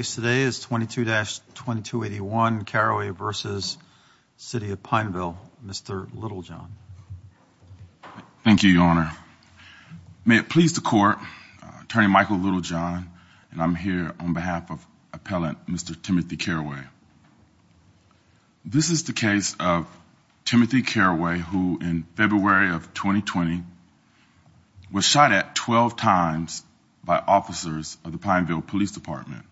Today is 22-2281 Caraway v. City of Pineville. Mr. Littlejohn. Thank you, Your Honor. May it please the court, Attorney Michael Littlejohn, and I'm here on behalf of appellant, Mr. Timothy Caraway. This is the case of Timothy Caraway, who in February of 2020 was shot at 12 times by officers of the Pineville Police Department.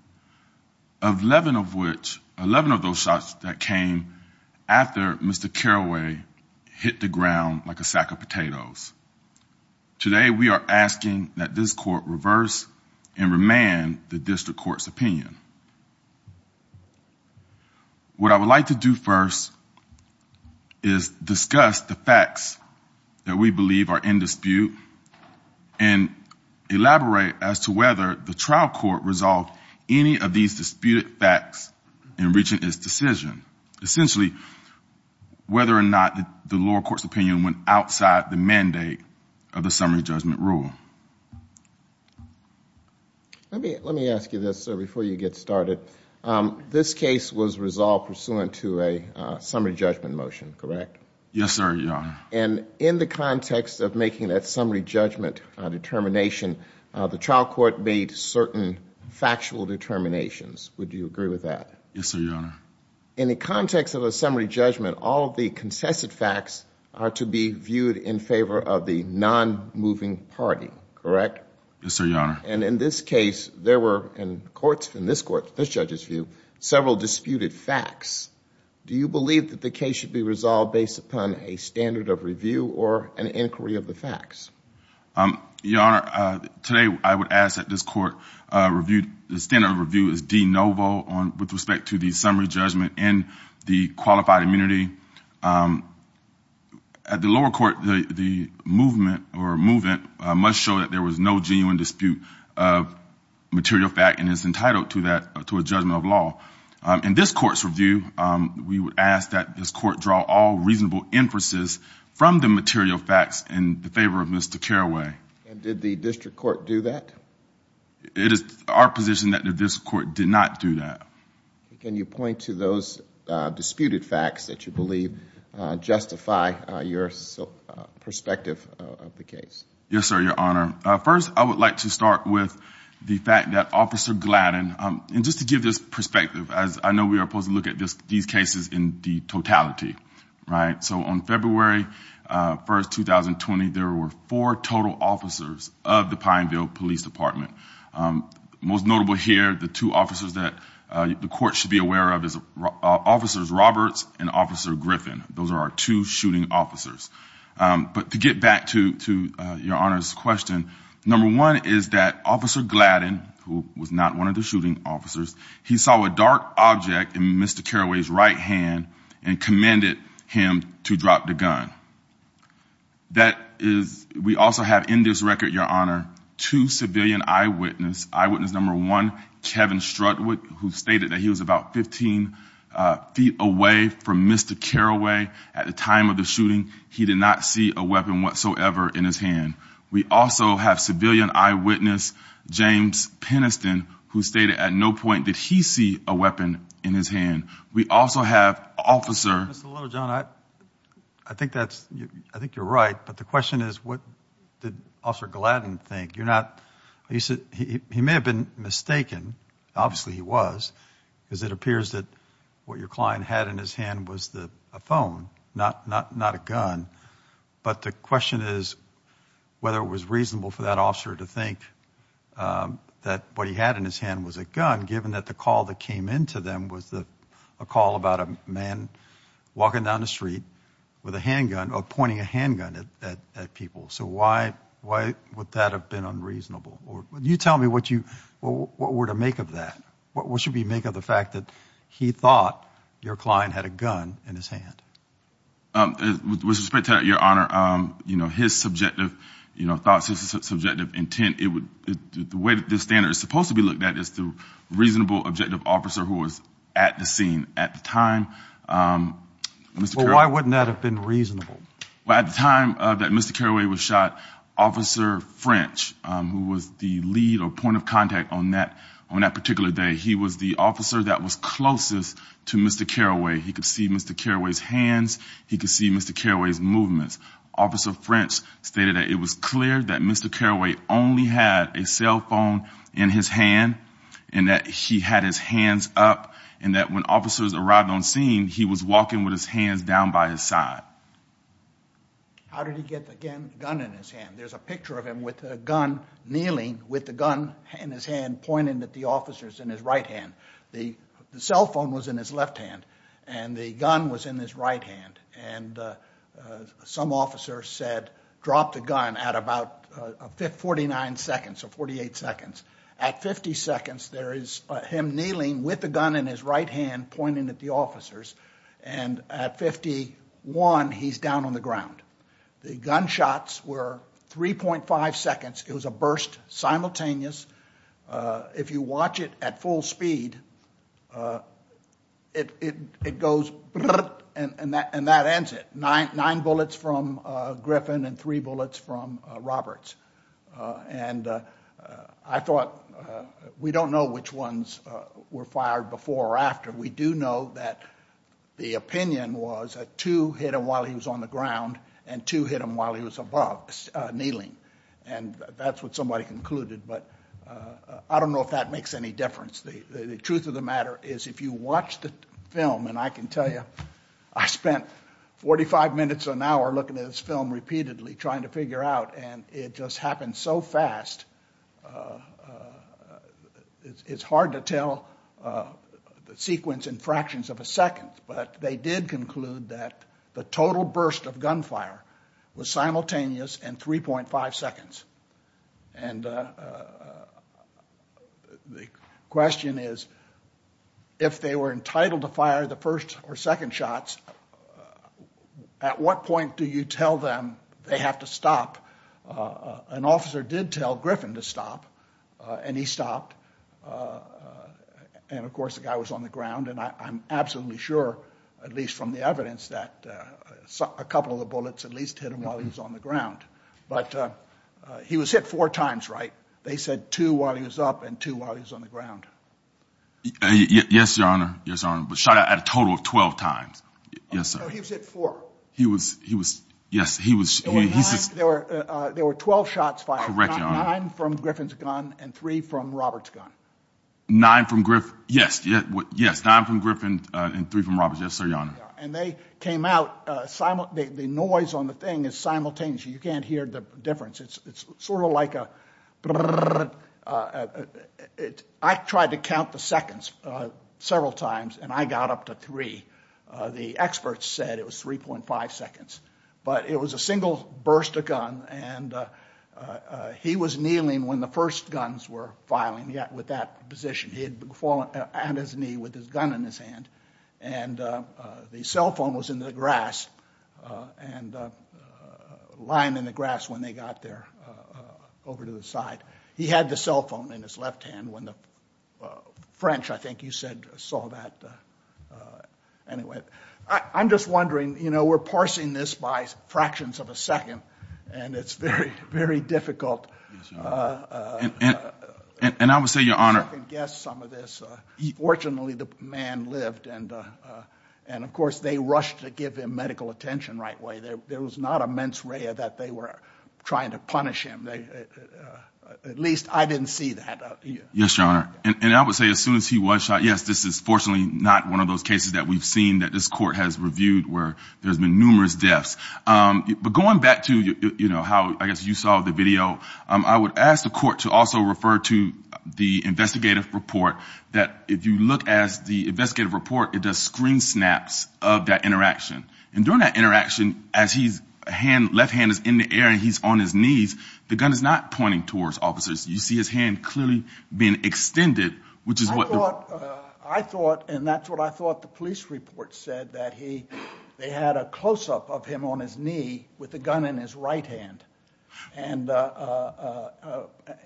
Of 11 of which, 11 of those shots that came after Mr. Caraway hit the ground like a sack of potatoes. Today, we are asking that this court reverse and remand the district court's opinion. What I would like to do first is discuss the facts that we believe are in dispute and elaborate as to whether the trial court resolved any of these disputed facts in reaching its decision. Essentially, whether or not the lower court's opinion went outside the mandate of the summary judgment rule. Let me ask you this, sir, before you get started. This case was resolved pursuant to a summary judgment motion, correct? Yes, sir, Your Honor. And in the context of making that summary judgment determination, the trial court made certain factual determinations. Would you agree with that? Yes, sir, Your Honor. In the context of a summary judgment, all of the consensus facts are to be viewed in favor of the non-moving party, correct? Yes, sir, Your Honor. And in this case, there were in courts, in this court, this judge's view, several disputed facts. Do you believe that the case should be resolved based upon a standard of review or an inquiry of the facts? Your Honor, today, I would ask that this court review, the standard of review is de novo with respect to the summary judgment and the qualified immunity. At the lower court, the movement must show that there was no genuine dispute of material fact and is entitled to a judgment of law. In this court's review, we would ask that this court draw all of this to care away. And did the district court do that? It is our position that the district court did not do that. Can you point to those disputed facts that you believe justify your perspective of the case? Yes, sir, Your Honor. First, I would like to start with the fact that Officer Gladden, and just to give this perspective, as I know we are supposed to look at these cases in the totality, right? Four total officers of the Pineville Police Department. Most notable here, the two officers that the court should be aware of is Officers Roberts and Officer Griffin. Those are our two shooting officers. But to get back to your Honor's question, number one is that Officer Gladden, who was not one of the shooting officers, he saw a dark object in Mr. Carraway's right hand and commended him to drop the gun. We also have in this record, Your Honor, two civilian eyewitnesses. Eyewitness number one, Kevin Strudwick, who stated that he was about 15 feet away from Mr. Carraway at the time of the shooting. He did not see a weapon whatsoever in his hand. We also have civilian eyewitness, James Penniston, who stated at no point did he see a weapon in his hand. We also have officer... Mr. Littlejohn, I think that's, I think you're right. But the question is what did Officer Gladden think? You're not, you said he may have been mistaken. Obviously he was, because it appears that what your client had in his hand was the phone, not a gun. But the question is whether it was reasonable for that officer to think that what he had in his hand was a gun, given that the call that came into them was a call about a man walking down the street with a handgun or pointing a handgun at people. So why would that have been unreasonable? Or you tell me what you, what were to make of that? What should we make of the fact that he thought your client had a gun in his hand? With respect to that, Your Honor, you know, his subjective, you know, thoughts, his subjective intent, it would, the way that this standard is supposed to be looked at is through a reasonable, objective officer who was at the scene at the time. Well, why wouldn't that have been reasonable? Well, at the time that Mr. Carraway was shot, Officer French, who was the lead or point of contact on that, on that particular day, he was the officer that was closest to Mr. Carraway. He could see Mr. Carraway's hands. He could see Mr. Carraway's movements. Officer French stated that it was clear that Mr. in his hand and that he had his hands up and that when officers arrived on scene, he was walking with his hands down by his side. How did he get the gun in his hand? There's a picture of him with a gun kneeling with the gun in his hand pointing at the officers in his right hand. The cell phone was in his left hand and the gun was in his right hand and some officer said, drop the gun at about a 49 seconds or 48 seconds. At 50 seconds, there is him kneeling with the gun in his right hand pointing at the officers and at 51, he's down on the ground. The gunshots were 3.5 seconds. It was a burst simultaneous. If you watch it at full speed, it goes and that ends it. Nine bullets from Griffin and three bullets from Roberts. And I thought we don't know which ones were fired before or after. We do know that the opinion was that two hit him while he was on the ground and two hit him while he was above kneeling. And that's what somebody concluded, but I don't know if that makes any difference. The truth of the matter is if you watch the film and I can tell you, I spent 45 minutes an hour looking at this film repeatedly trying to figure out and it just happened so fast. It's hard to tell the sequence in fractions of a second, but they did conclude that the total burst of gunfire was simultaneous and 3.5 seconds. And the question is, if they were entitled to fire the first or second shots, at what point do you tell them they have to stop? An officer did tell Griffin to stop and he stopped. And of course the guy was on the ground and I'm absolutely sure, at least from the evidence, that a couple of the bullets at least hit him while he was on the ground, but he was hit four times, right? They said two while he was up and two while he was on the ground. Twelve times. Yes, sir. He was hit four. He was, he was, yes, he was, he's just, there were, there were 12 shots fired, nine from Griffin's gun and three from Robert's gun. Nine from Griffin. Yes, yes, nine from Griffin and three from Robert's gun, yes sir, your honor. And they came out, the noise on the thing is simultaneous. You can't hear the difference. It's sort of like a, I tried to count the seconds several times and I got up to three. The experts said it was 3.5 seconds, but it was a single burst of gun and he was kneeling when the first guns were filing yet with that position. He had fallen on his knee with his gun in his hand and the cell phone was in the grass and lying in the grass when they got there over to the side. He had the cell phone in his left hand when the French, I don't know that, anyway, I'm just wondering, you know, we're parsing this by fractions of a second and it's very, very difficult. And I would say your honor, I can guess some of this, fortunately the man lived and, and of course they rushed to give him medical attention right away. There, there was not a mens rea that they were trying to punish him. They, at least I didn't see that. Yes, your honor. And I would say as soon as he was shot, yes, this is unfortunately not one of those cases that we've seen that this court has reviewed where there's been numerous deaths. But going back to, you know, how I guess you saw the video. I would ask the court to also refer to the investigative report that if you look as the investigative report, it does screen snaps of that interaction and during that interaction as he's hand, left hand is in the air and he's on his knees. The gun is not pointing towards officers. You see his hand clearly being extended, which is what I thought and that's what I thought the police report said that he, they had a closeup of him on his knee with the gun in his right hand and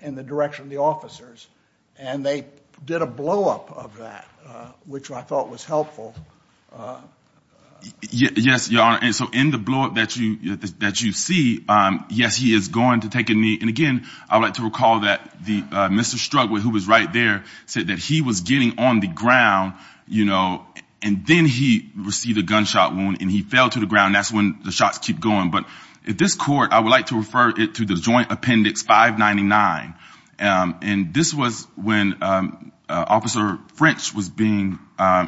in the direction of the officers and they did a blow up of that, which I thought was helpful. Yes, your honor. And so in the blow up that you, that you see, yes, he is going to take a knee. And again, I would like to recall that the Mr. Strugwick who was right there said that he was getting on the ground, you know, and then he received a gunshot wound and he fell to the ground. That's when the shots keep going. But if this court, I would like to refer it to the Joint Appendix 599. And this was when Officer French was being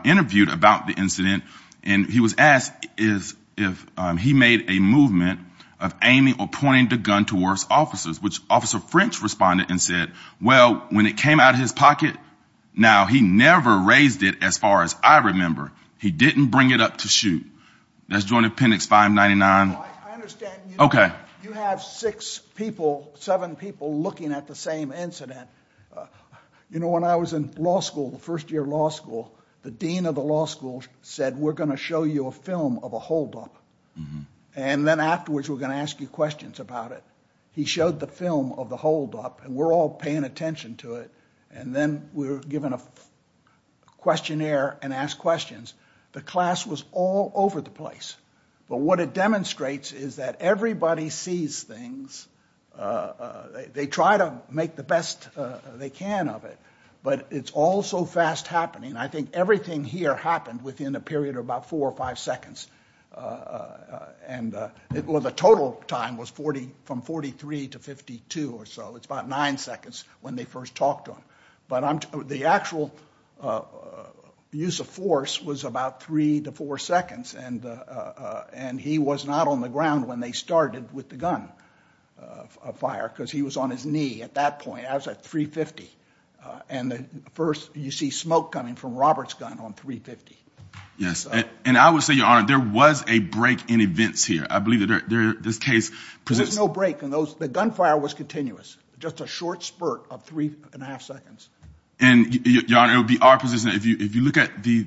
interviewed about the incident and he was asked is if he made a movement of aiming or pointing the gun towards officers, which Officer French responded and said, well, when it came out of his I remember raised it as far as I remember, he didn't bring it up to shoot. That's Joint Appendix 599. Okay. You have six people, seven people looking at the same incident. You know, when I was in law school, the first year of law school, the Dean of the law school said, we're going to show you a film of a holdup and then afterwards, we're going to ask you questions about it. He showed the film of the holdup and we're all paying attention to it. And then we were given a questionnaire and asked questions. The class was all over the place. But what it demonstrates is that everybody sees things. They try to make the best they can of it, but it's all so fast happening. I think everything here happened within a period of about four or five seconds. And it was a total time was 40 from 43 to 52 or so. It's about nine seconds when they first talked to him, but I'm the actual use of force was about three to four seconds and he was not on the ground when they started with the gun of fire because he was on his knee at that point. I was at 350 and the first you see smoke coming from Robert's gun on 350. Yes, and I would say, Your Honor, there was a break in events here. I believe that this case presents no break in those. The gunfire was continuous. Just a short spurt of three and a half seconds. And, Your Honor, it would be our position. If you look at the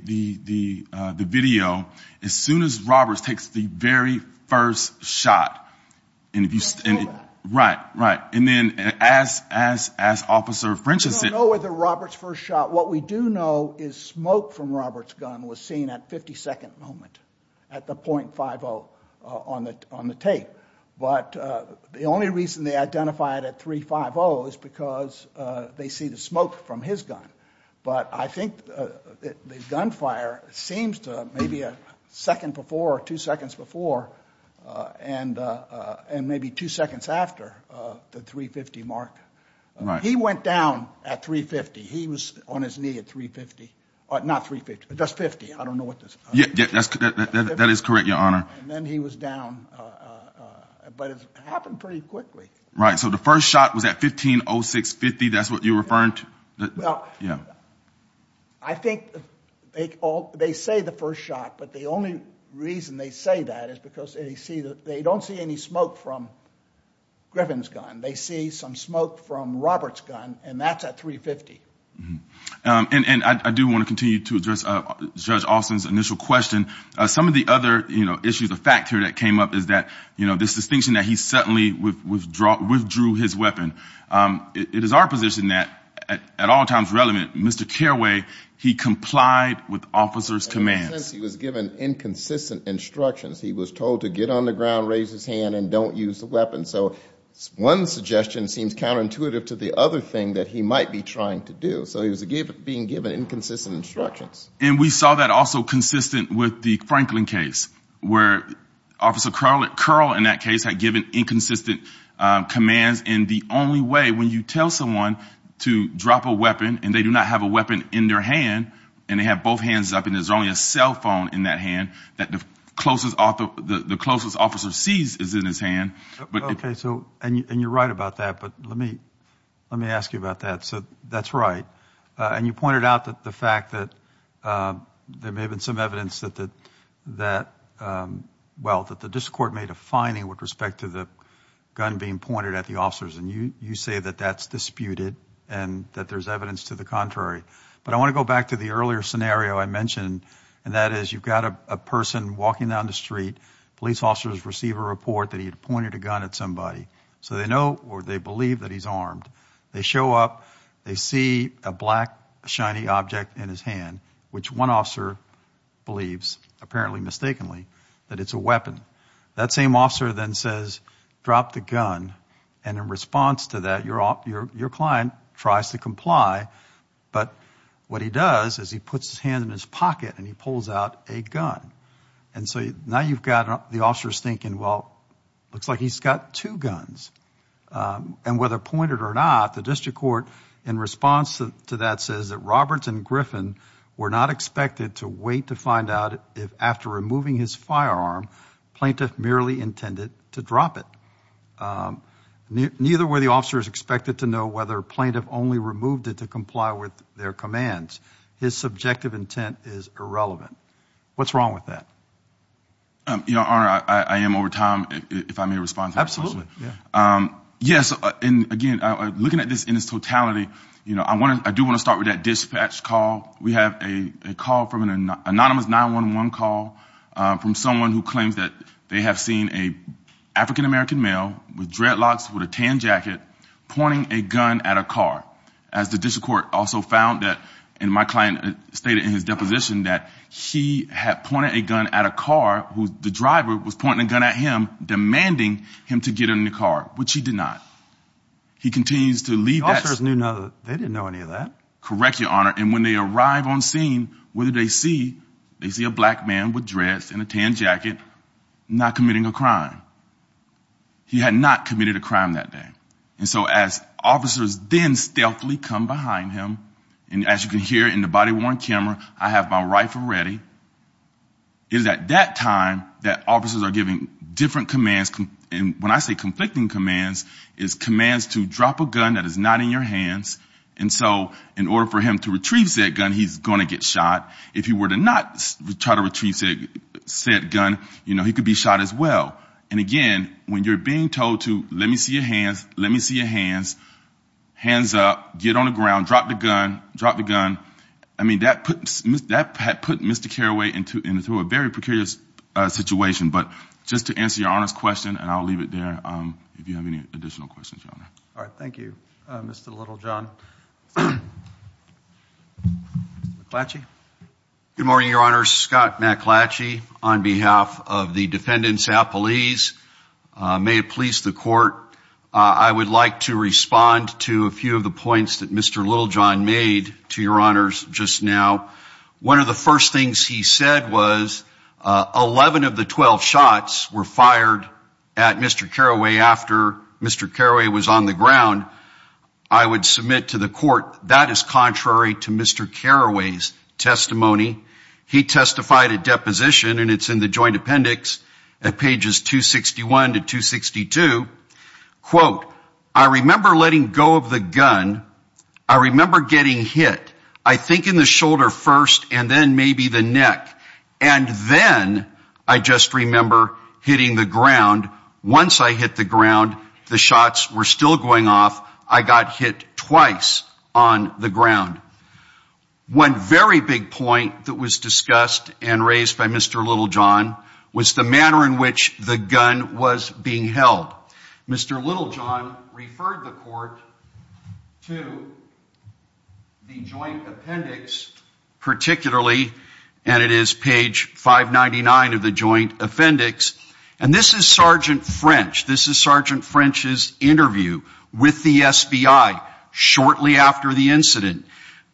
video, as soon as Roberts takes the very first shot, and if you stand, right, right. And then as Officer Frencheson. We don't know whether Roberts first shot. What we do know is smoke from Roberts gun was seen at 52nd moment at the .50 on the tape. But the only reason they identified at 350 is because they see the smoke from his gun. But I think the gunfire seems to maybe a second before or two seconds before and and maybe two seconds after the 350 mark. He went down at 350. He was on his knee at 350, not 350, just 50. I don't know what this is. Yeah, that is correct, Your Honor. And then he was down. But it happened pretty quickly. Right. So the first shot was at 1506.50. That's what you're referring to. Well, yeah. I think they say the first shot, but the only reason they say that is because they see that they don't see any smoke from Griffin's gun. They see some smoke from Roberts gun and that's at 350. And I do want to continue to address Judge Alston's initial question. Some of the other, you know, issues of fact here that came up is that, you know, this distinction that he suddenly withdrew his weapon. It is our position that, at all times relevant, Mr. Carraway, he complied with officer's commands. He was given inconsistent instructions. He was told to get on the ground, raise his hand, and don't use the weapon. So one suggestion seems counterintuitive to the other thing that he might be trying to do. So he was being given inconsistent instructions. And we saw that also consistent with the Franklin case, where Officer Curl, in that case, had given inconsistent commands. And the only way, when you tell someone to drop a weapon, and they do not have a weapon in their hand, and they have both hands up, and there's only a cell phone in that hand, that the closest officer sees is in his hand. Okay. So, and you're right about that. But let me ask you about that. So that's right. And you pointed out that the fact that there may have been some evidence that the, well, that the district court made a finding with respect to the gun being pointed at the officers. And you say that that's disputed, and that there's evidence to the contrary. But I want to go back to the earlier scenario I mentioned, and that is, you've got a person walking down the street, police officers receive a report that he had pointed a gun at somebody. So they know, or they believe, that he's armed. They show up, they see a black, shiny object in his hand, which one officer believes, apparently mistakenly, that it's a weapon. That same officer then says, drop the gun. And in response to that, your client tries to comply. But what he does is he puts his hand in his pocket and he pulls out a gun. And so now you've got the officers thinking, well, looks like he's got two guns. And whether he's pointed or not, the district court, in response to that, says that Roberts and Griffin were not expected to wait to find out if, after removing his firearm, plaintiff merely intended to drop it. Neither were the officers expected to know whether plaintiff only removed it to comply with their commands. His subjective intent is irrelevant. What's wrong with that? Your Honor, I am over time, if I may respond. Absolutely. Yes, and again, looking at this in its totality, I do want to start with that dispatch call. We have a call from an anonymous 911 call from someone who claims that they have seen an African-American male with dreadlocks, with a tan jacket, pointing a gun at a car. As the district court also found that, and my client stated in his deposition, that he had pointed a gun at a car, who the driver was pointing a gun at him, demanding him to get in the car, which he did not. He continues to leave... The officers knew, they didn't know any of that. Correct, Your Honor. And when they arrive on scene, what did they see? They see a black man with dreads and a tan jacket, not committing a crime. He had not committed a crime that day. And so as officers then stealthily come behind him, and as you can hear in the body-worn camera, I have my rifle ready. It is at that time that officers are giving different commands. And when I say conflicting commands, it's commands to drop a gun that is not in your hands. And so in order for him to retrieve said gun, he's going to get shot. If he were to not try to retrieve said gun, you know, he could be shot as well. And again, when you're being told to, let me see your hands, let me see your hands, hands up, get on the ground, drop the gun, drop the gun. I mean, that put Mr. Carraway into a very precarious situation. But just to answer your Honor's question, and I'll leave it there, if you have any additional questions, Your Honor. All right. Thank you, Mr. Littlejohn. Mr. McClatchy. Good morning, Your Honor. Scott McClatchy on behalf of the defendants appellees. May it please the Court, I would like to respond to a few of the points that Mr. Littlejohn made to Your Honors just now. One of the first things he said was 11 of the 12 shots were fired at Mr. Carraway after Mr. Carraway was on the ground. I would submit to the Court that is contrary to Mr. Carraway's testimony. He testified at deposition, and it's in the Joint Appendix at pages 261 to 262. Quote, I remember letting go of the gun. I remember getting hit, I think in the shoulder first and then maybe the neck, and then I just remember hitting the ground. Once I hit the ground, the shots were still going off. I got hit twice on the ground. One very big point that was discussed and raised by Mr. Littlejohn was the manner in which the gun was being held. Mr. Littlejohn referred the Court to the Joint Appendix particularly, and it is page 599 of the Joint Appendix, and this is Sergeant French. This is Sergeant French's interview with the SBI shortly after the incident.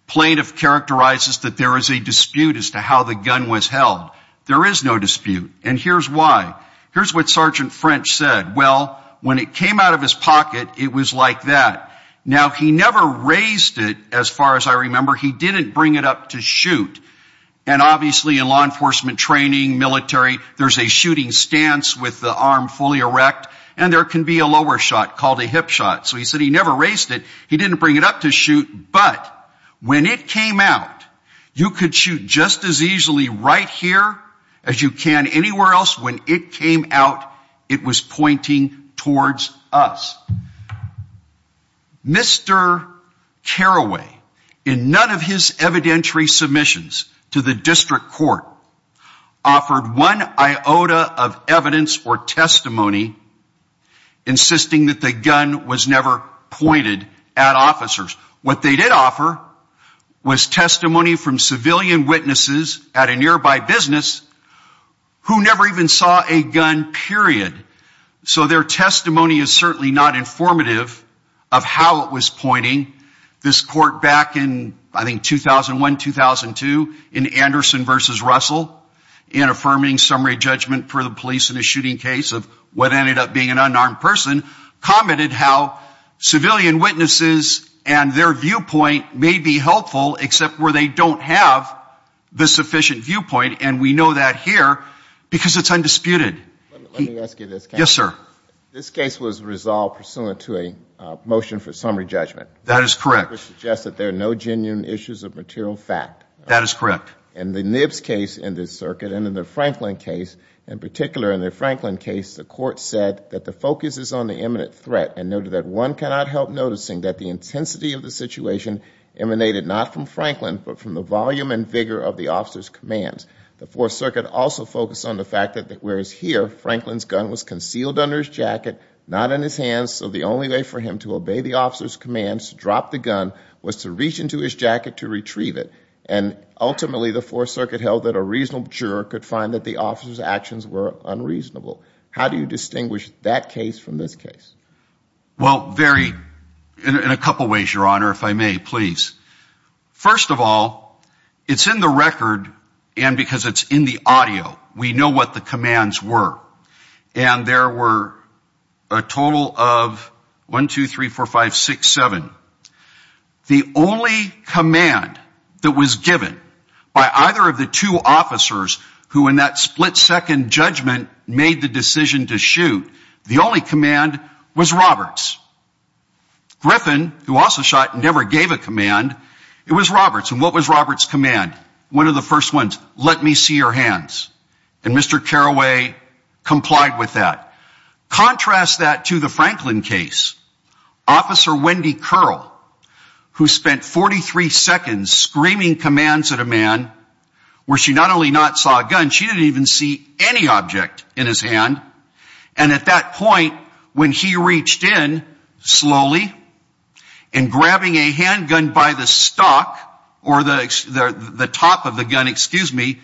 Plaintiff characterizes that there is a dispute as to how the gun was held. There is no dispute, and here's why. Here's what Sergeant French said. Well, when it came out of his pocket, it was like that. Now, he never raised it, as far as I remember. He didn't bring it up to shoot, and obviously in law enforcement training, military, there's a shooting stance with the arm fully erect, and there can be a lower shot called a hip shot. So he said he never raised it. He didn't bring it up to shoot, but when it came out, you could shoot just as easily right here as you can anywhere else. When it came out, it was pointing towards us. Mr. Carraway, in none of his evidentiary submissions to the District Court, offered one iota of evidence or testimony insisting that the gun was never pointed at officers. What they did offer was testimony from civilian witnesses at a nearby business who never even saw a gun, period. So their testimony is certainly not informative of how it was pointing. This court back in, I think, 2001, 2002, in Anderson v. Russell, in affirming summary judgment for the police in a shooting case of what ended up being an unarmed person, commented how civilian witnesses and their viewpoint may be helpful except where they don't have the sufficient viewpoint, and we know that here because it's undisputed. Let me ask you this, counsel. Yes, sir. This case was resolved pursuant to a motion for summary judgment. That is correct. Which suggests that there are no genuine issues of material fact. That is correct. In the Nibs case in this circuit and in the Franklin case, in particular in the Franklin case, the court said that the focus is on the imminent threat and noted that one cannot help noticing that the intensity of the situation emanated not from Franklin but from the volume and vigor of the officer's commands. The Fourth Circuit also focused on the fact that whereas here Franklin's gun was concealed under his jacket, not in his hands, so the only way for him to obey the officer's commands to drop the gun was to reach into his jacket to retrieve it, and ultimately the Fourth Circuit held that a reasonable juror could find that the officer's actions were unreasonable. How do you distinguish that case from this case? Well, very, in a couple ways, Your Honor, if I may, please. First of all, it's in the record and because it's in the audio, we know what the commands were. And there were a total of 1, 2, 3, 4, 5, 6, 7. The only command that was given by either of the two officers who in that split-second judgment made the decision to shoot, the only command was Roberts. Griffin, who also shot and never gave a command, it was Roberts. And what was Roberts' command? One of the first ones, let me see your hands. And Mr. Carraway complied with that. Contrast that to the Franklin case. Officer Wendy Curl, who spent 43 seconds screaming commands at a man where she not only not saw a gun, she didn't even see any object in his hand. And at that point when he reached in slowly and grabbing a handgun by the stock or the top of the gun, excuse me,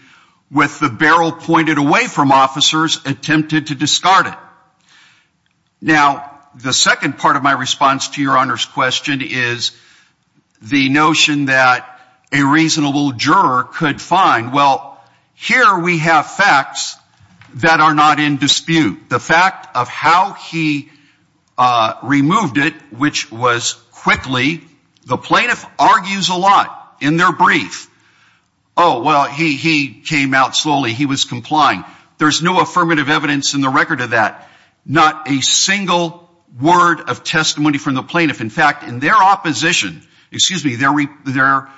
with the barrel pointed away from officers, attempted to discard it. Now, the second part of my response to Your Honor's question is the notion that a reasonable juror could find. Well, here we have facts that are not in dispute. The fact of how he removed it, which was quickly, the plaintiff argues a lot in their brief. Oh, well, he came out slowly. He was complying. There's no affirmative evidence in the record of that. Not a single word of testimony from the plaintiff. In fact, in their opposition, excuse me, their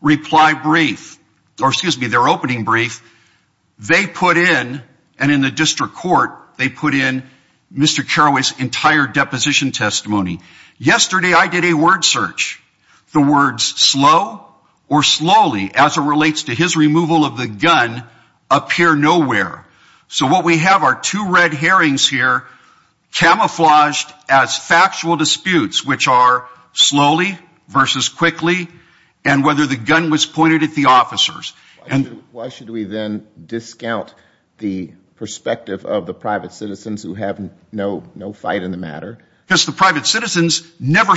reply brief, or excuse me, their opening brief, they put in, and in the district court, they put in Mr. Carraway's entire deposition testimony. Yesterday I did a word search. The words slow or slowly as it relates to his removal of the gun appear nowhere. So what we have are two red herrings here camouflaged as factual disputes, which are slowly versus quickly, and whether the gun was pointed at the officers. Why should we then discount the perspective of the private citizens who have no fight in the matter? Because the plaintiff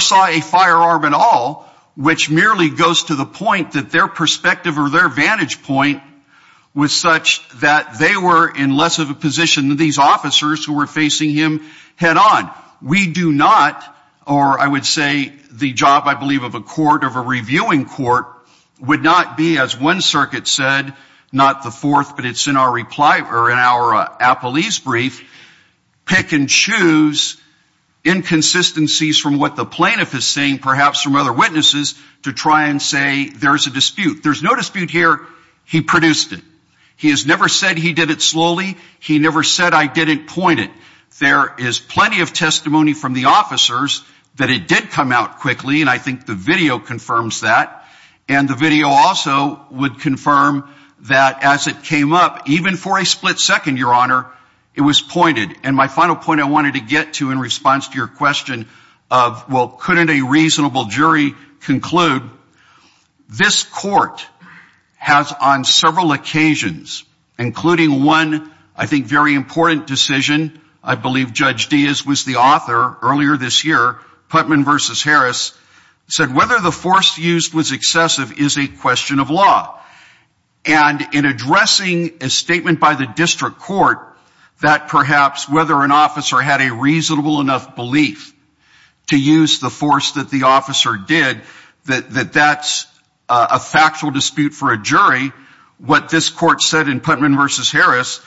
saw a firearm at all, which merely goes to the point that their perspective or their vantage point was such that they were in less of a position than these officers who were facing him head on. We do not, or I would say the job, I believe, of a court, of a reviewing court, would not be, as one circuit said, not the fourth, but it's in our reply, or in our appellee's brief, pick and choose inconsistencies from what the plaintiff is saying, perhaps from other witnesses, to try and say there's a dispute. There's no dispute here. He produced it. He has never said he did it slowly. He never said I didn't point it. There is plenty of testimony from the officers that it did come out quickly, and I think the video confirms that. And the video also would confirm that as it came up, even for a split second, Your Honor, it was pointed. And my final point I wanted to get to in response to your question of, well, couldn't a reasonable jury conclude, this court has on several occasions, including one, I think, very important decision, I believe Judge Diaz was the author earlier this year, Putnam v. Harris, said whether the force used was excessive is a question of law. And in addressing a statement by the district court that perhaps whether an officer had a reasonable enough belief to use the force that the officer did, that that's a factual dispute for a jury, what this court said in Putnam v. Harris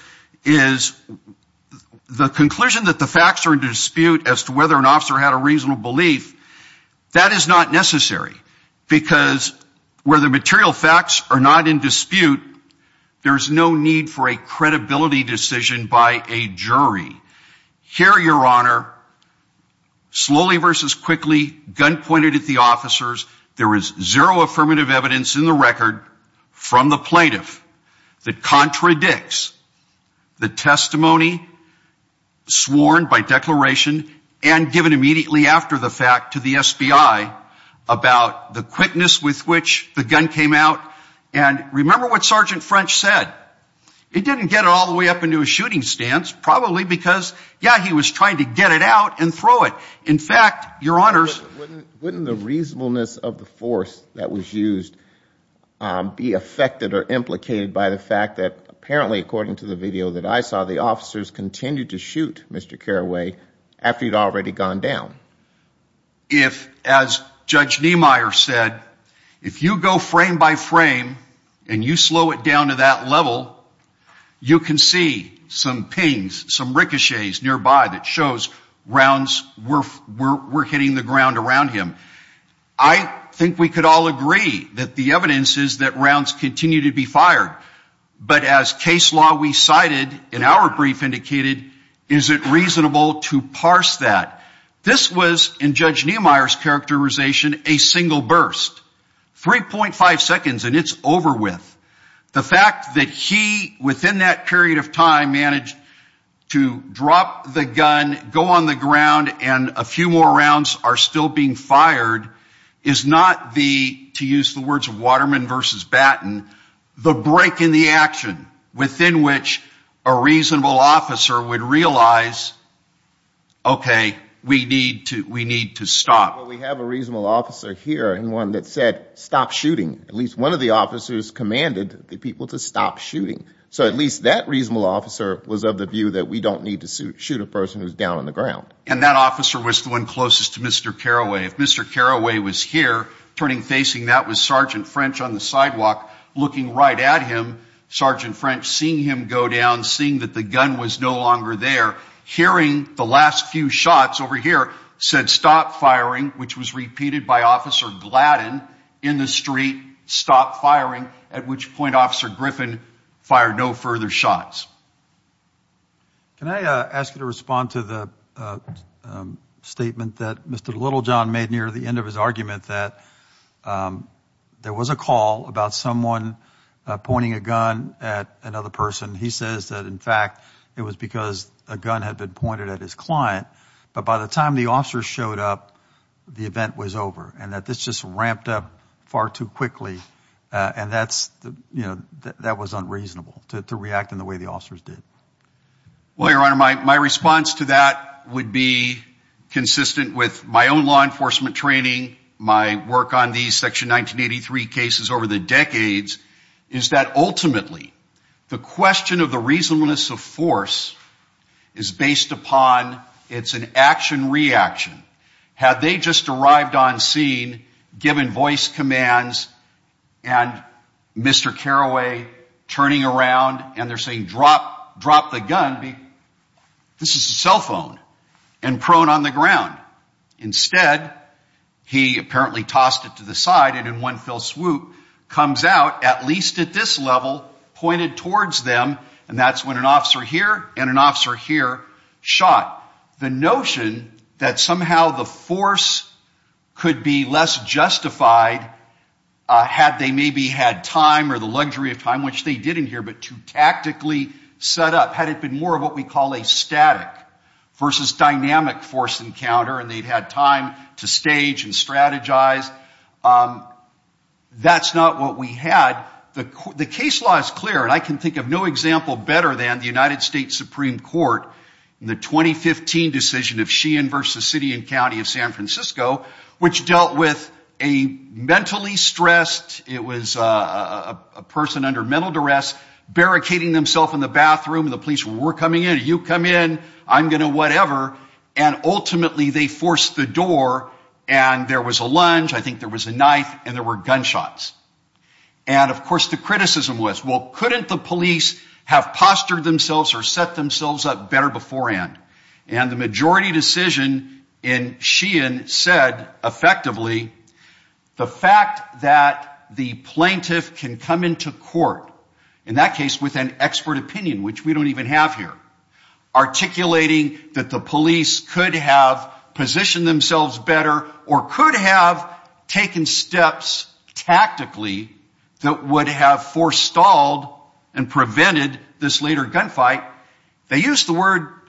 is the conclusion that the facts are in dispute as to whether an officer had a reasonable belief, that is not necessary, because where the material facts are not in dispute, there's no need for a credibility decision by a jury. Here, Your Honor, slowly versus quickly, gun pointed at the officers, there is zero affirmative evidence in the record from the plaintiff that contradicts the testimony sworn by declaration and given immediately after the fact to the SBI about the quickness with which the gun came out. And remember what Sergeant French said. He didn't get it all the way up into a shooting stance, probably because, yeah, he was trying to get it out and throw it. In fact, Your Honors... Wouldn't the reasonableness of the force that was used be affected or implicated by the fact that apparently, according to the video that I saw, the officers continued to shoot Mr. Carraway after he'd already gone down? If, as Judge Niemeyer said, if you go frame by frame and you slow it down to that level, you can see some pings, some ricochets nearby that shows rounds were hitting the ground around him. I think we could all agree that the evidence is that rounds continue to be fired. But as case law we cited in our brief indicated, is it reasonable to parse that? This was, in Judge Niemeyer's characterization, a single burst. 3.5 seconds and it's over with. The fact that he, within that period of time, managed to drop the gun, go on the ground, and a few more rounds are still being fired is not the, to use the words of Waterman versus Batten, the break in the action within which a reasonable officer would realize, okay, we need to stop. We have a reasonable officer here and one that said, stop shooting. At least one of the officers commanded the people to stop shooting. So at least that reasonable officer was of the view that we don't need to shoot a person who's down on the ground. And that officer was the one closest to Mr. Carraway. If Mr. Carraway was here, turning facing that was Sergeant French on the sidewalk, looking right at him, Sergeant French seeing him go down, seeing that the gun was no longer there, hearing the last few shots over here, said stop firing, which was repeated by Officer Gladden in the street, stop firing, at which point Officer Griffin fired no further shots. Can I ask you to respond to the statement that Mr. Littlejohn made near the end of his argument that there was a call about someone pointing a gun at another person. He says that in fact, it was because a gun had been pointed at his client. But by the time the officer showed up, the event was over and that this just ramped up far too quickly. And that's, you know, that to react in the way the officers did. Well, Your Honor, my response to that would be consistent with my own law enforcement training, my work on these Section 1983 cases over the decades, is that ultimately, the question of the reasonableness of force is based upon, it's an action-reaction. Had they just arrived on scene, given voice commands, and Mr. Carraway turning around and they're saying drop, drop the gun, this is a cell phone and prone on the ground. Instead, he apparently tossed it to the side and in one fell swoop, comes out, at least at this level, pointed towards them. And that's when an officer here and an officer here shot. The notion that somehow the force could be less justified had they maybe had time or the luxury of time, which they didn't here, but to tactically set up, had it been more of what we call a static versus dynamic force encounter and they'd had time to stage and strategize. That's not what we had. The case law is clear and I can think of no example better than the United States Supreme Court in the 2015 decision of Sheehan v. City and County of San Francisco, which dealt with a mentally stressed, it was a person under mental duress, barricading themselves in the bathroom and the police were coming in, you come in, I'm going to whatever, and ultimately they forced the door and there was a lunge, I think there was a knife, and there were gunshots. And of course the criticism was, well, couldn't the police have postured themselves or set themselves up better beforehand? And the majority decision in Sheehan said effectively the fact that the plaintiff can come into court, in that case with an expert opinion, which we don't even have here, articulating that the police could have positioned themselves better or could have taken steps tactically that would have forestalled and prevented this later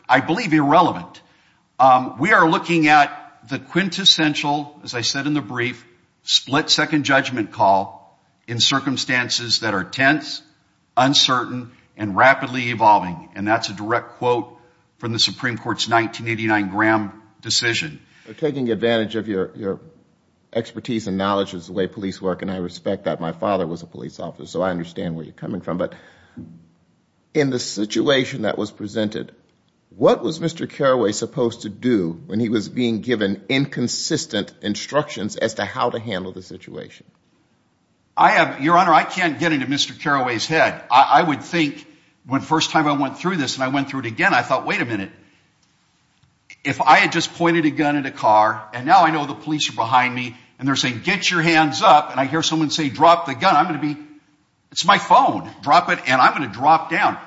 I believe irrelevant. We are looking at the quintessential, as I said in the brief, split second judgment call in circumstances that are tense, uncertain, and rapidly evolving. And that's a direct quote from the Supreme Court's 1989 Graham decision. Taking advantage of your expertise and knowledge is the way police work and I respect that. My father was a police officer, so I understand where you're coming from. But in the situation that was presented, what was Mr. Carraway supposed to do when he was being given inconsistent instructions as to how to handle the situation? I have, Your Honor, I can't get into Mr. Carraway's head. I would think when first time I went through this and I went through it again, I thought, wait a minute. If I had just pointed a gun at a car and now I know the police are behind me and they're saying, get your hands up, and I hear someone say, drop the gun, I'm going to be, it's my phone, drop it and I'm going to drop down.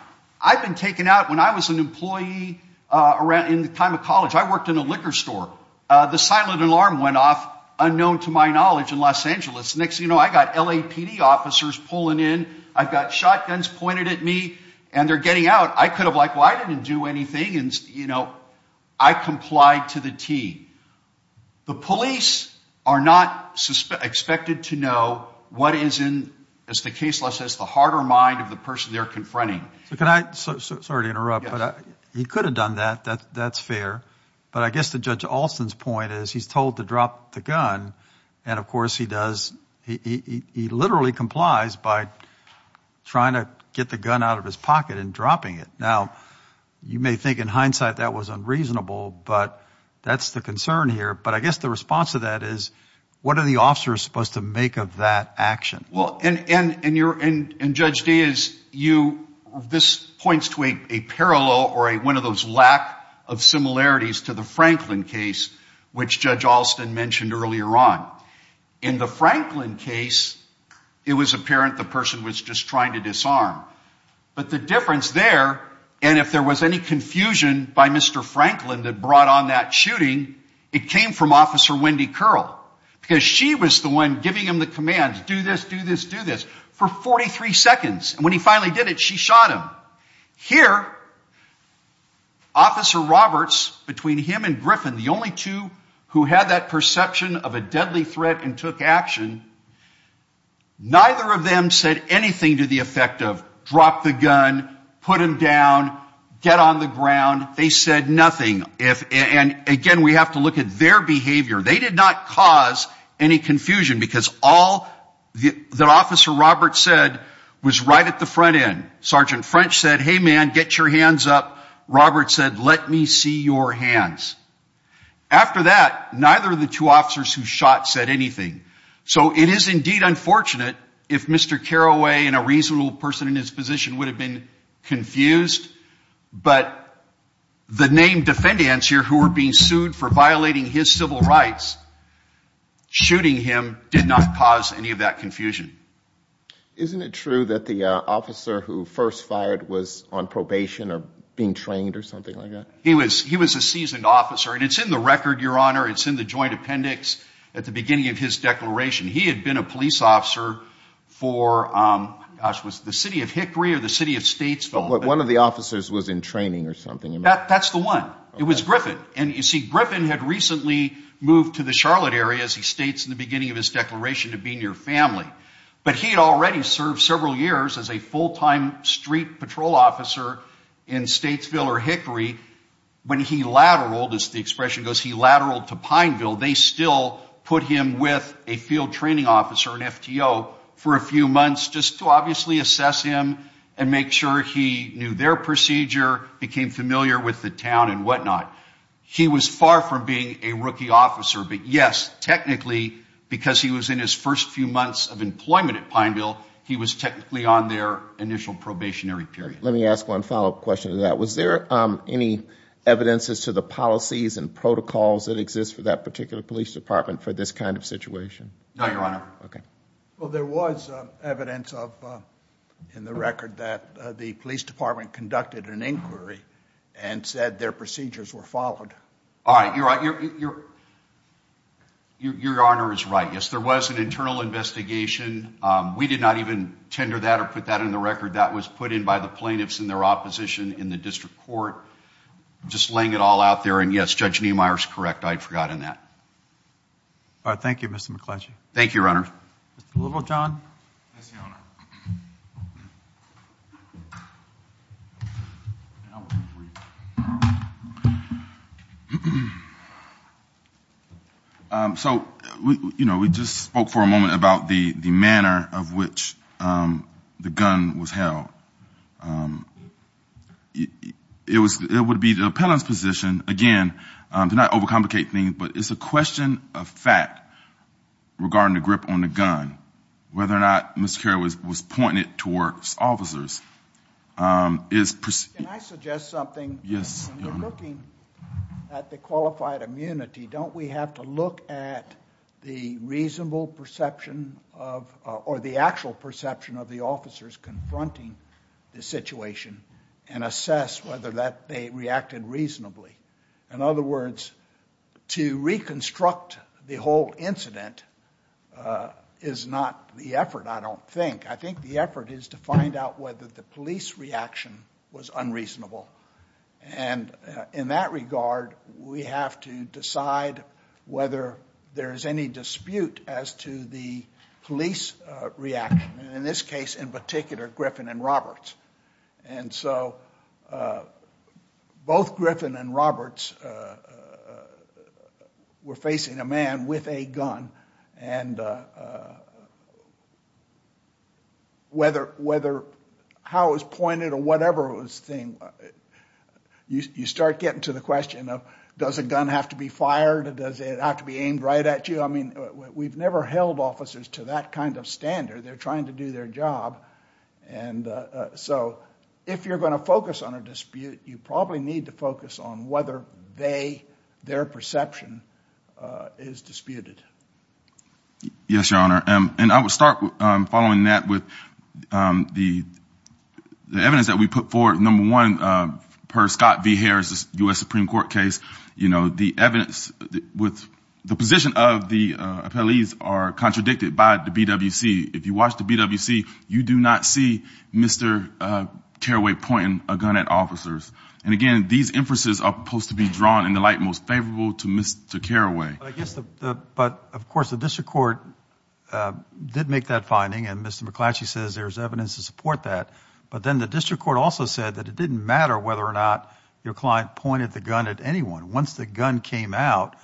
I've been taken out when I was an employee around in the time of college. I worked in a liquor store. The silent alarm went off, unknown to my knowledge, in Los Angeles. Next thing you know, I got LAPD officers pulling in. I've got shotguns pointed at me and they're getting out. I could have like, well, I didn't do anything and, you know, I complied to the T. The police are not expected to know what is in, as the case law says, the heart or mind of the person they're confronting. So can I, so sorry to interrupt, but he could have done that. That's fair. But I guess the judge Alston's point is he's told to drop the gun. And of course he does. He literally complies by trying to get the gun out of his pocket and dropping it. Now, you may think in hindsight that was unreasonable, but that's the concern here. But I guess the response to that is, what are the officers supposed to make of that action? Well, and, and, and you're, and, and Judge Dias, you, this points to a parallel or a, one of those lack of similarities to the Franklin case, which Judge Alston mentioned earlier on. In the Franklin case, it was apparent the person was just trying to disarm. But the difference there, and if there was any confusion by Mr. Franklin that brought on that shooting, it came from Officer Wendy Curl, because she was the one giving him the order to do this for 43 seconds. And when he finally did it, she shot him. Here, Officer Roberts, between him and Griffin, the only two who had that perception of a deadly threat and took action, neither of them said anything to the effect of drop the gun, put him down, get on the ground. They said nothing. If, and again, we have to look at their behavior. They did not cause any confusion, because all that Officer Roberts said was right at the front end. Sergeant French said, hey, man, get your hands up. Roberts said, let me see your hands. After that, neither of the two officers who shot said anything. So it is indeed unfortunate if Mr. Carraway and a reasonable person in his position would have been confused. But the named defendants here who were being sued for violating his civil rights, shooting him did not cause any of that confusion. Isn't it true that the officer who first fired was on probation or being trained or something like that? He was a seasoned officer. And it's in the record, Your Honor. It's in the joint appendix at the beginning of his declaration. He had been a police officer for, gosh, was it the city of Hickory or the city of Statesville? One of the officers was in training or something. That's the one. It was Griffin. And you see, Griffin had recently moved to the Charlotte area, as he states in the beginning of his declaration, to be near family. But he had already served several years as a full-time street patrol officer in Statesville or Hickory. When he lateraled, as the expression goes, he lateraled to Pineville, they still put him with a field training officer, an FTO, for a few months just to obviously assess him and make sure he knew their procedure, became familiar with the town and whatnot. He was far from being a rookie officer. But yes, technically, because he was in his first few months of employment at Pineville, he was technically on their initial probationary period. Let me ask one follow-up question to that. Was there any evidence as to the policies and protocols that exist for that particular police department for this kind of situation? No, Your Honor. Okay. Well, there was evidence of, in the record, that the police department conducted an inquiry and said their procedures were followed. All right. Your Honor is right. Yes, there was an internal investigation. We did not even tender that or put that in the record. That was put in by the plaintiffs and their opposition in the district court. Just laying it all out there. And yes, Judge Niemeyer is correct. I'd forgotten that. All right. Thank you, Mr. McClatchy. Thank you, Your Honor. Mr. Littlejohn. Yes, Your Honor. So, you know, we just spoke for a moment about the manner of which the gun was held. It would be the appellant's position, again, to not over-complicate things, but it's a question of fact regarding the grip on the gun, whether or not Mr. Carroll was pointed towards officers. Can I suggest something? Yes, Your Honor. When you're looking at the qualified immunity, don't we have to look at the reasonable perception of, or the actual perception of, the officers confronting the situation and assess whether that they reacted reasonably? In other words, to reconstruct the whole incident is not the effort, I don't think. I think the effort is to find out whether the police reaction was unreasonable. And in that regard, we have to decide whether there is any dispute as to the police reaction. In this case, in particular, Griffin and Roberts. And so both Griffin and Roberts were facing a man with a gun. And whether, how it was pointed or whatever it was, you start getting to the question of does a gun have to be fired? Does it have to be aimed right at you? I mean, we've never held officers to that kind of standard. They're trying to do their job. And so if you're going to focus on a dispute, you probably need to focus on whether they, their perception, is disputed. Yes, Your Honor. And I would start following that with the evidence that we put forward. Number one, per Scott V. Harris, U.S. Supreme Court case, you know, the evidence with the position of the appellees are contradicted by the BWC. If you watch the BWC, you do not see Mr. Carraway pointing a gun at officers. And again, these emphases are supposed to be drawn in the light most favorable to Mr. Carraway. But I guess the, but of course, the district court did make that finding. And Mr. McClatchy says there's evidence to support that. But then the district court also said that it didn't matter whether or not your client pointed the gun at anyone. Once the gun came out,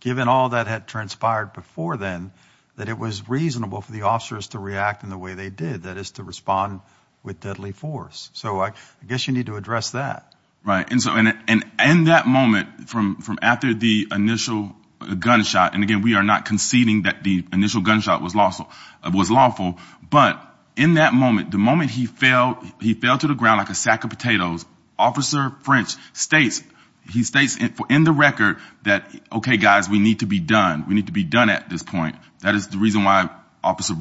given all that had transpired before then, that it was reasonable for the officers to react in the way they did, that is to respond with deadly force. So I guess you need to address that. Right. And so, and in that moment, from after the initial gunshot, and again, we are not conceding that the initial gunshot was lawful, but in that moment, the moment he fell, he fell to the ground like a sack of potatoes, Officer French states, he states in the record that, okay, guys, we need to be done. We need to be done at this point. That is the reason why Officer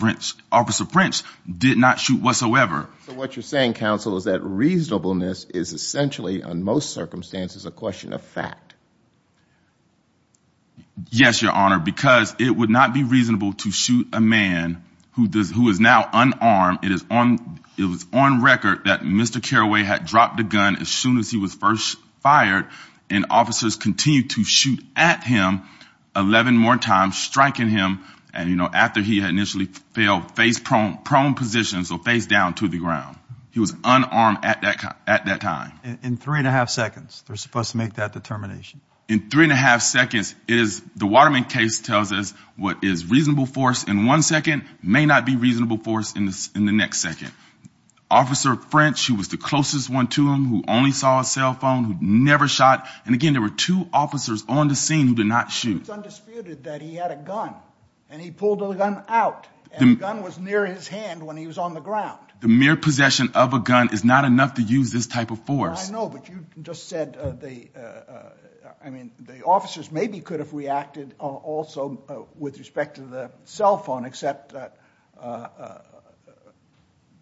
French did not shoot whatsoever. So what you're saying, counsel, is that reasonableness is essentially, on most circumstances, a question of fact. Yes, your honor, because it would not be reasonable to shoot a man who does, who is now unarmed. It is on, it was on record that Mr. Carraway had dropped the gun as soon as he was first fired, and officers continued to shoot at him 11 more times, striking him. And you know, after he had initially failed face prone, prone position, so face down to the ground, he was unarmed at that, at that time. In three and a half seconds, they're supposed to make that determination. In three and a half seconds is, the Waterman case tells us what is reasonable force in one second may not be reasonable force in the next second. Officer French, who was the closest one to him, who only saw a cell phone, who never shot. And again, there were two officers on the scene who did not shoot. It's undisputed that he had a gun, and he pulled the gun out. The gun was near his hand when he was on the ground. The mere possession of a gun is not enough to use this type of force. I know, but you just said they, I mean, the officers maybe could have reacted also with respect to the cell phone, except that,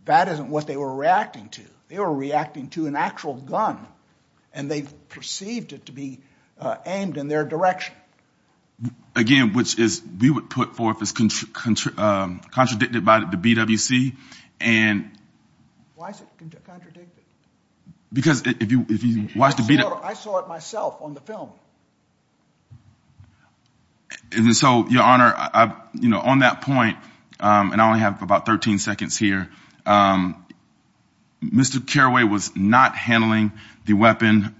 that isn't what they were reacting to. They were reacting to an actual gun, and they perceived it to be aimed in their direction. Again, which is, we would put forth as contradicted by the BWC, and... Why is it contradicted? Because if you, if you watch the BWC... I saw it myself on the film. And so, Your Honor, you know, on that point, and I only have about 13 seconds here, Mr. Carraway was not handling the weapon,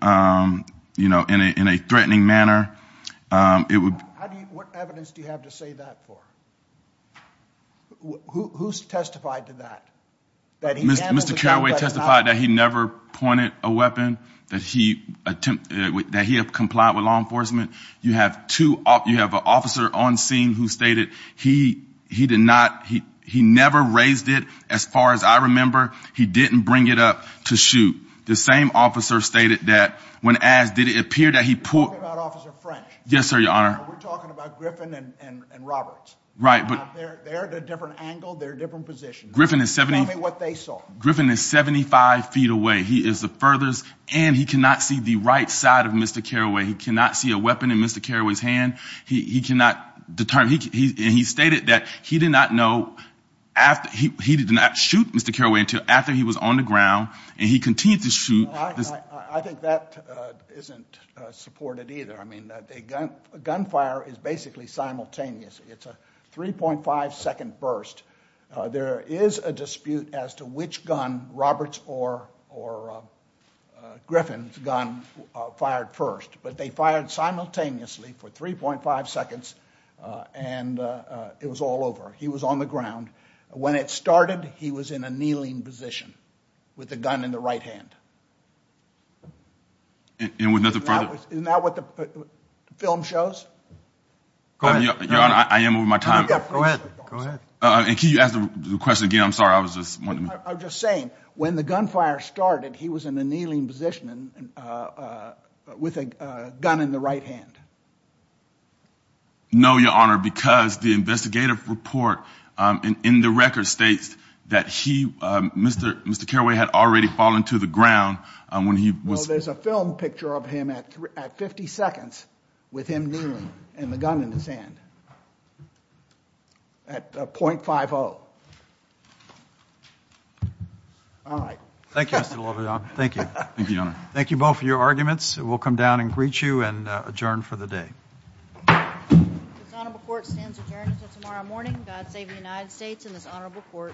you know, in a, in a threatening manner. It would... How do you, what evidence do you have to say that for? Who's testified to that? Mr. Carraway testified that he never pointed a weapon, that he attempted, that he had complied with law enforcement. You have two, you have an officer on scene who stated he, he did not, he, he never raised it. As far as I remember, he didn't bring it up to shoot. The same officer stated that when asked, did it appear that he pulled... You're talking about Officer French? Yes, sir, Your Honor. We're talking about Griffin and Roberts. Right, but... They're at a different angle, they're different positions. Griffin is 70... Tell me what they saw. Griffin is 75 feet away. He is the furthest, and he cannot see the right side of Mr. Carraway. He cannot see a weapon in Mr. Carraway's hand. He, he cannot determine, and he stated that he did not know after, he, he did not shoot Mr. Carraway until after he was on the ground, and he continued to shoot. I think that isn't supported either. I mean, a gun, a gunfire is basically simultaneous. It's a 3.5 second burst. There is a dispute as to which gun Roberts or, or Griffin's gun fired first, but they fired simultaneously for 3.5 seconds, and it was all over. He was on the ground. When it started, he was in a kneeling position with the gun in the right hand. And with nothing Your Honor, I am over my time. Go ahead, go ahead. And can you ask the question again? I'm sorry. I was just wondering. I'm just saying when the gunfire started, he was in a kneeling position with a gun in the right hand. No, Your Honor, because the investigative report in the record states that he, Mr. Mr. Carraway had already fallen to the ground when he was... Well, there's a film picture of him at 50 seconds with him kneeling and the gun in his hand at .50. All right. Thank you. Thank you. Thank you, Your Honor. Thank you both for your arguments. We'll come down and greet you and adjourn for the day. This honorable court stands adjourned until tomorrow morning. God save the United States and this honorable court.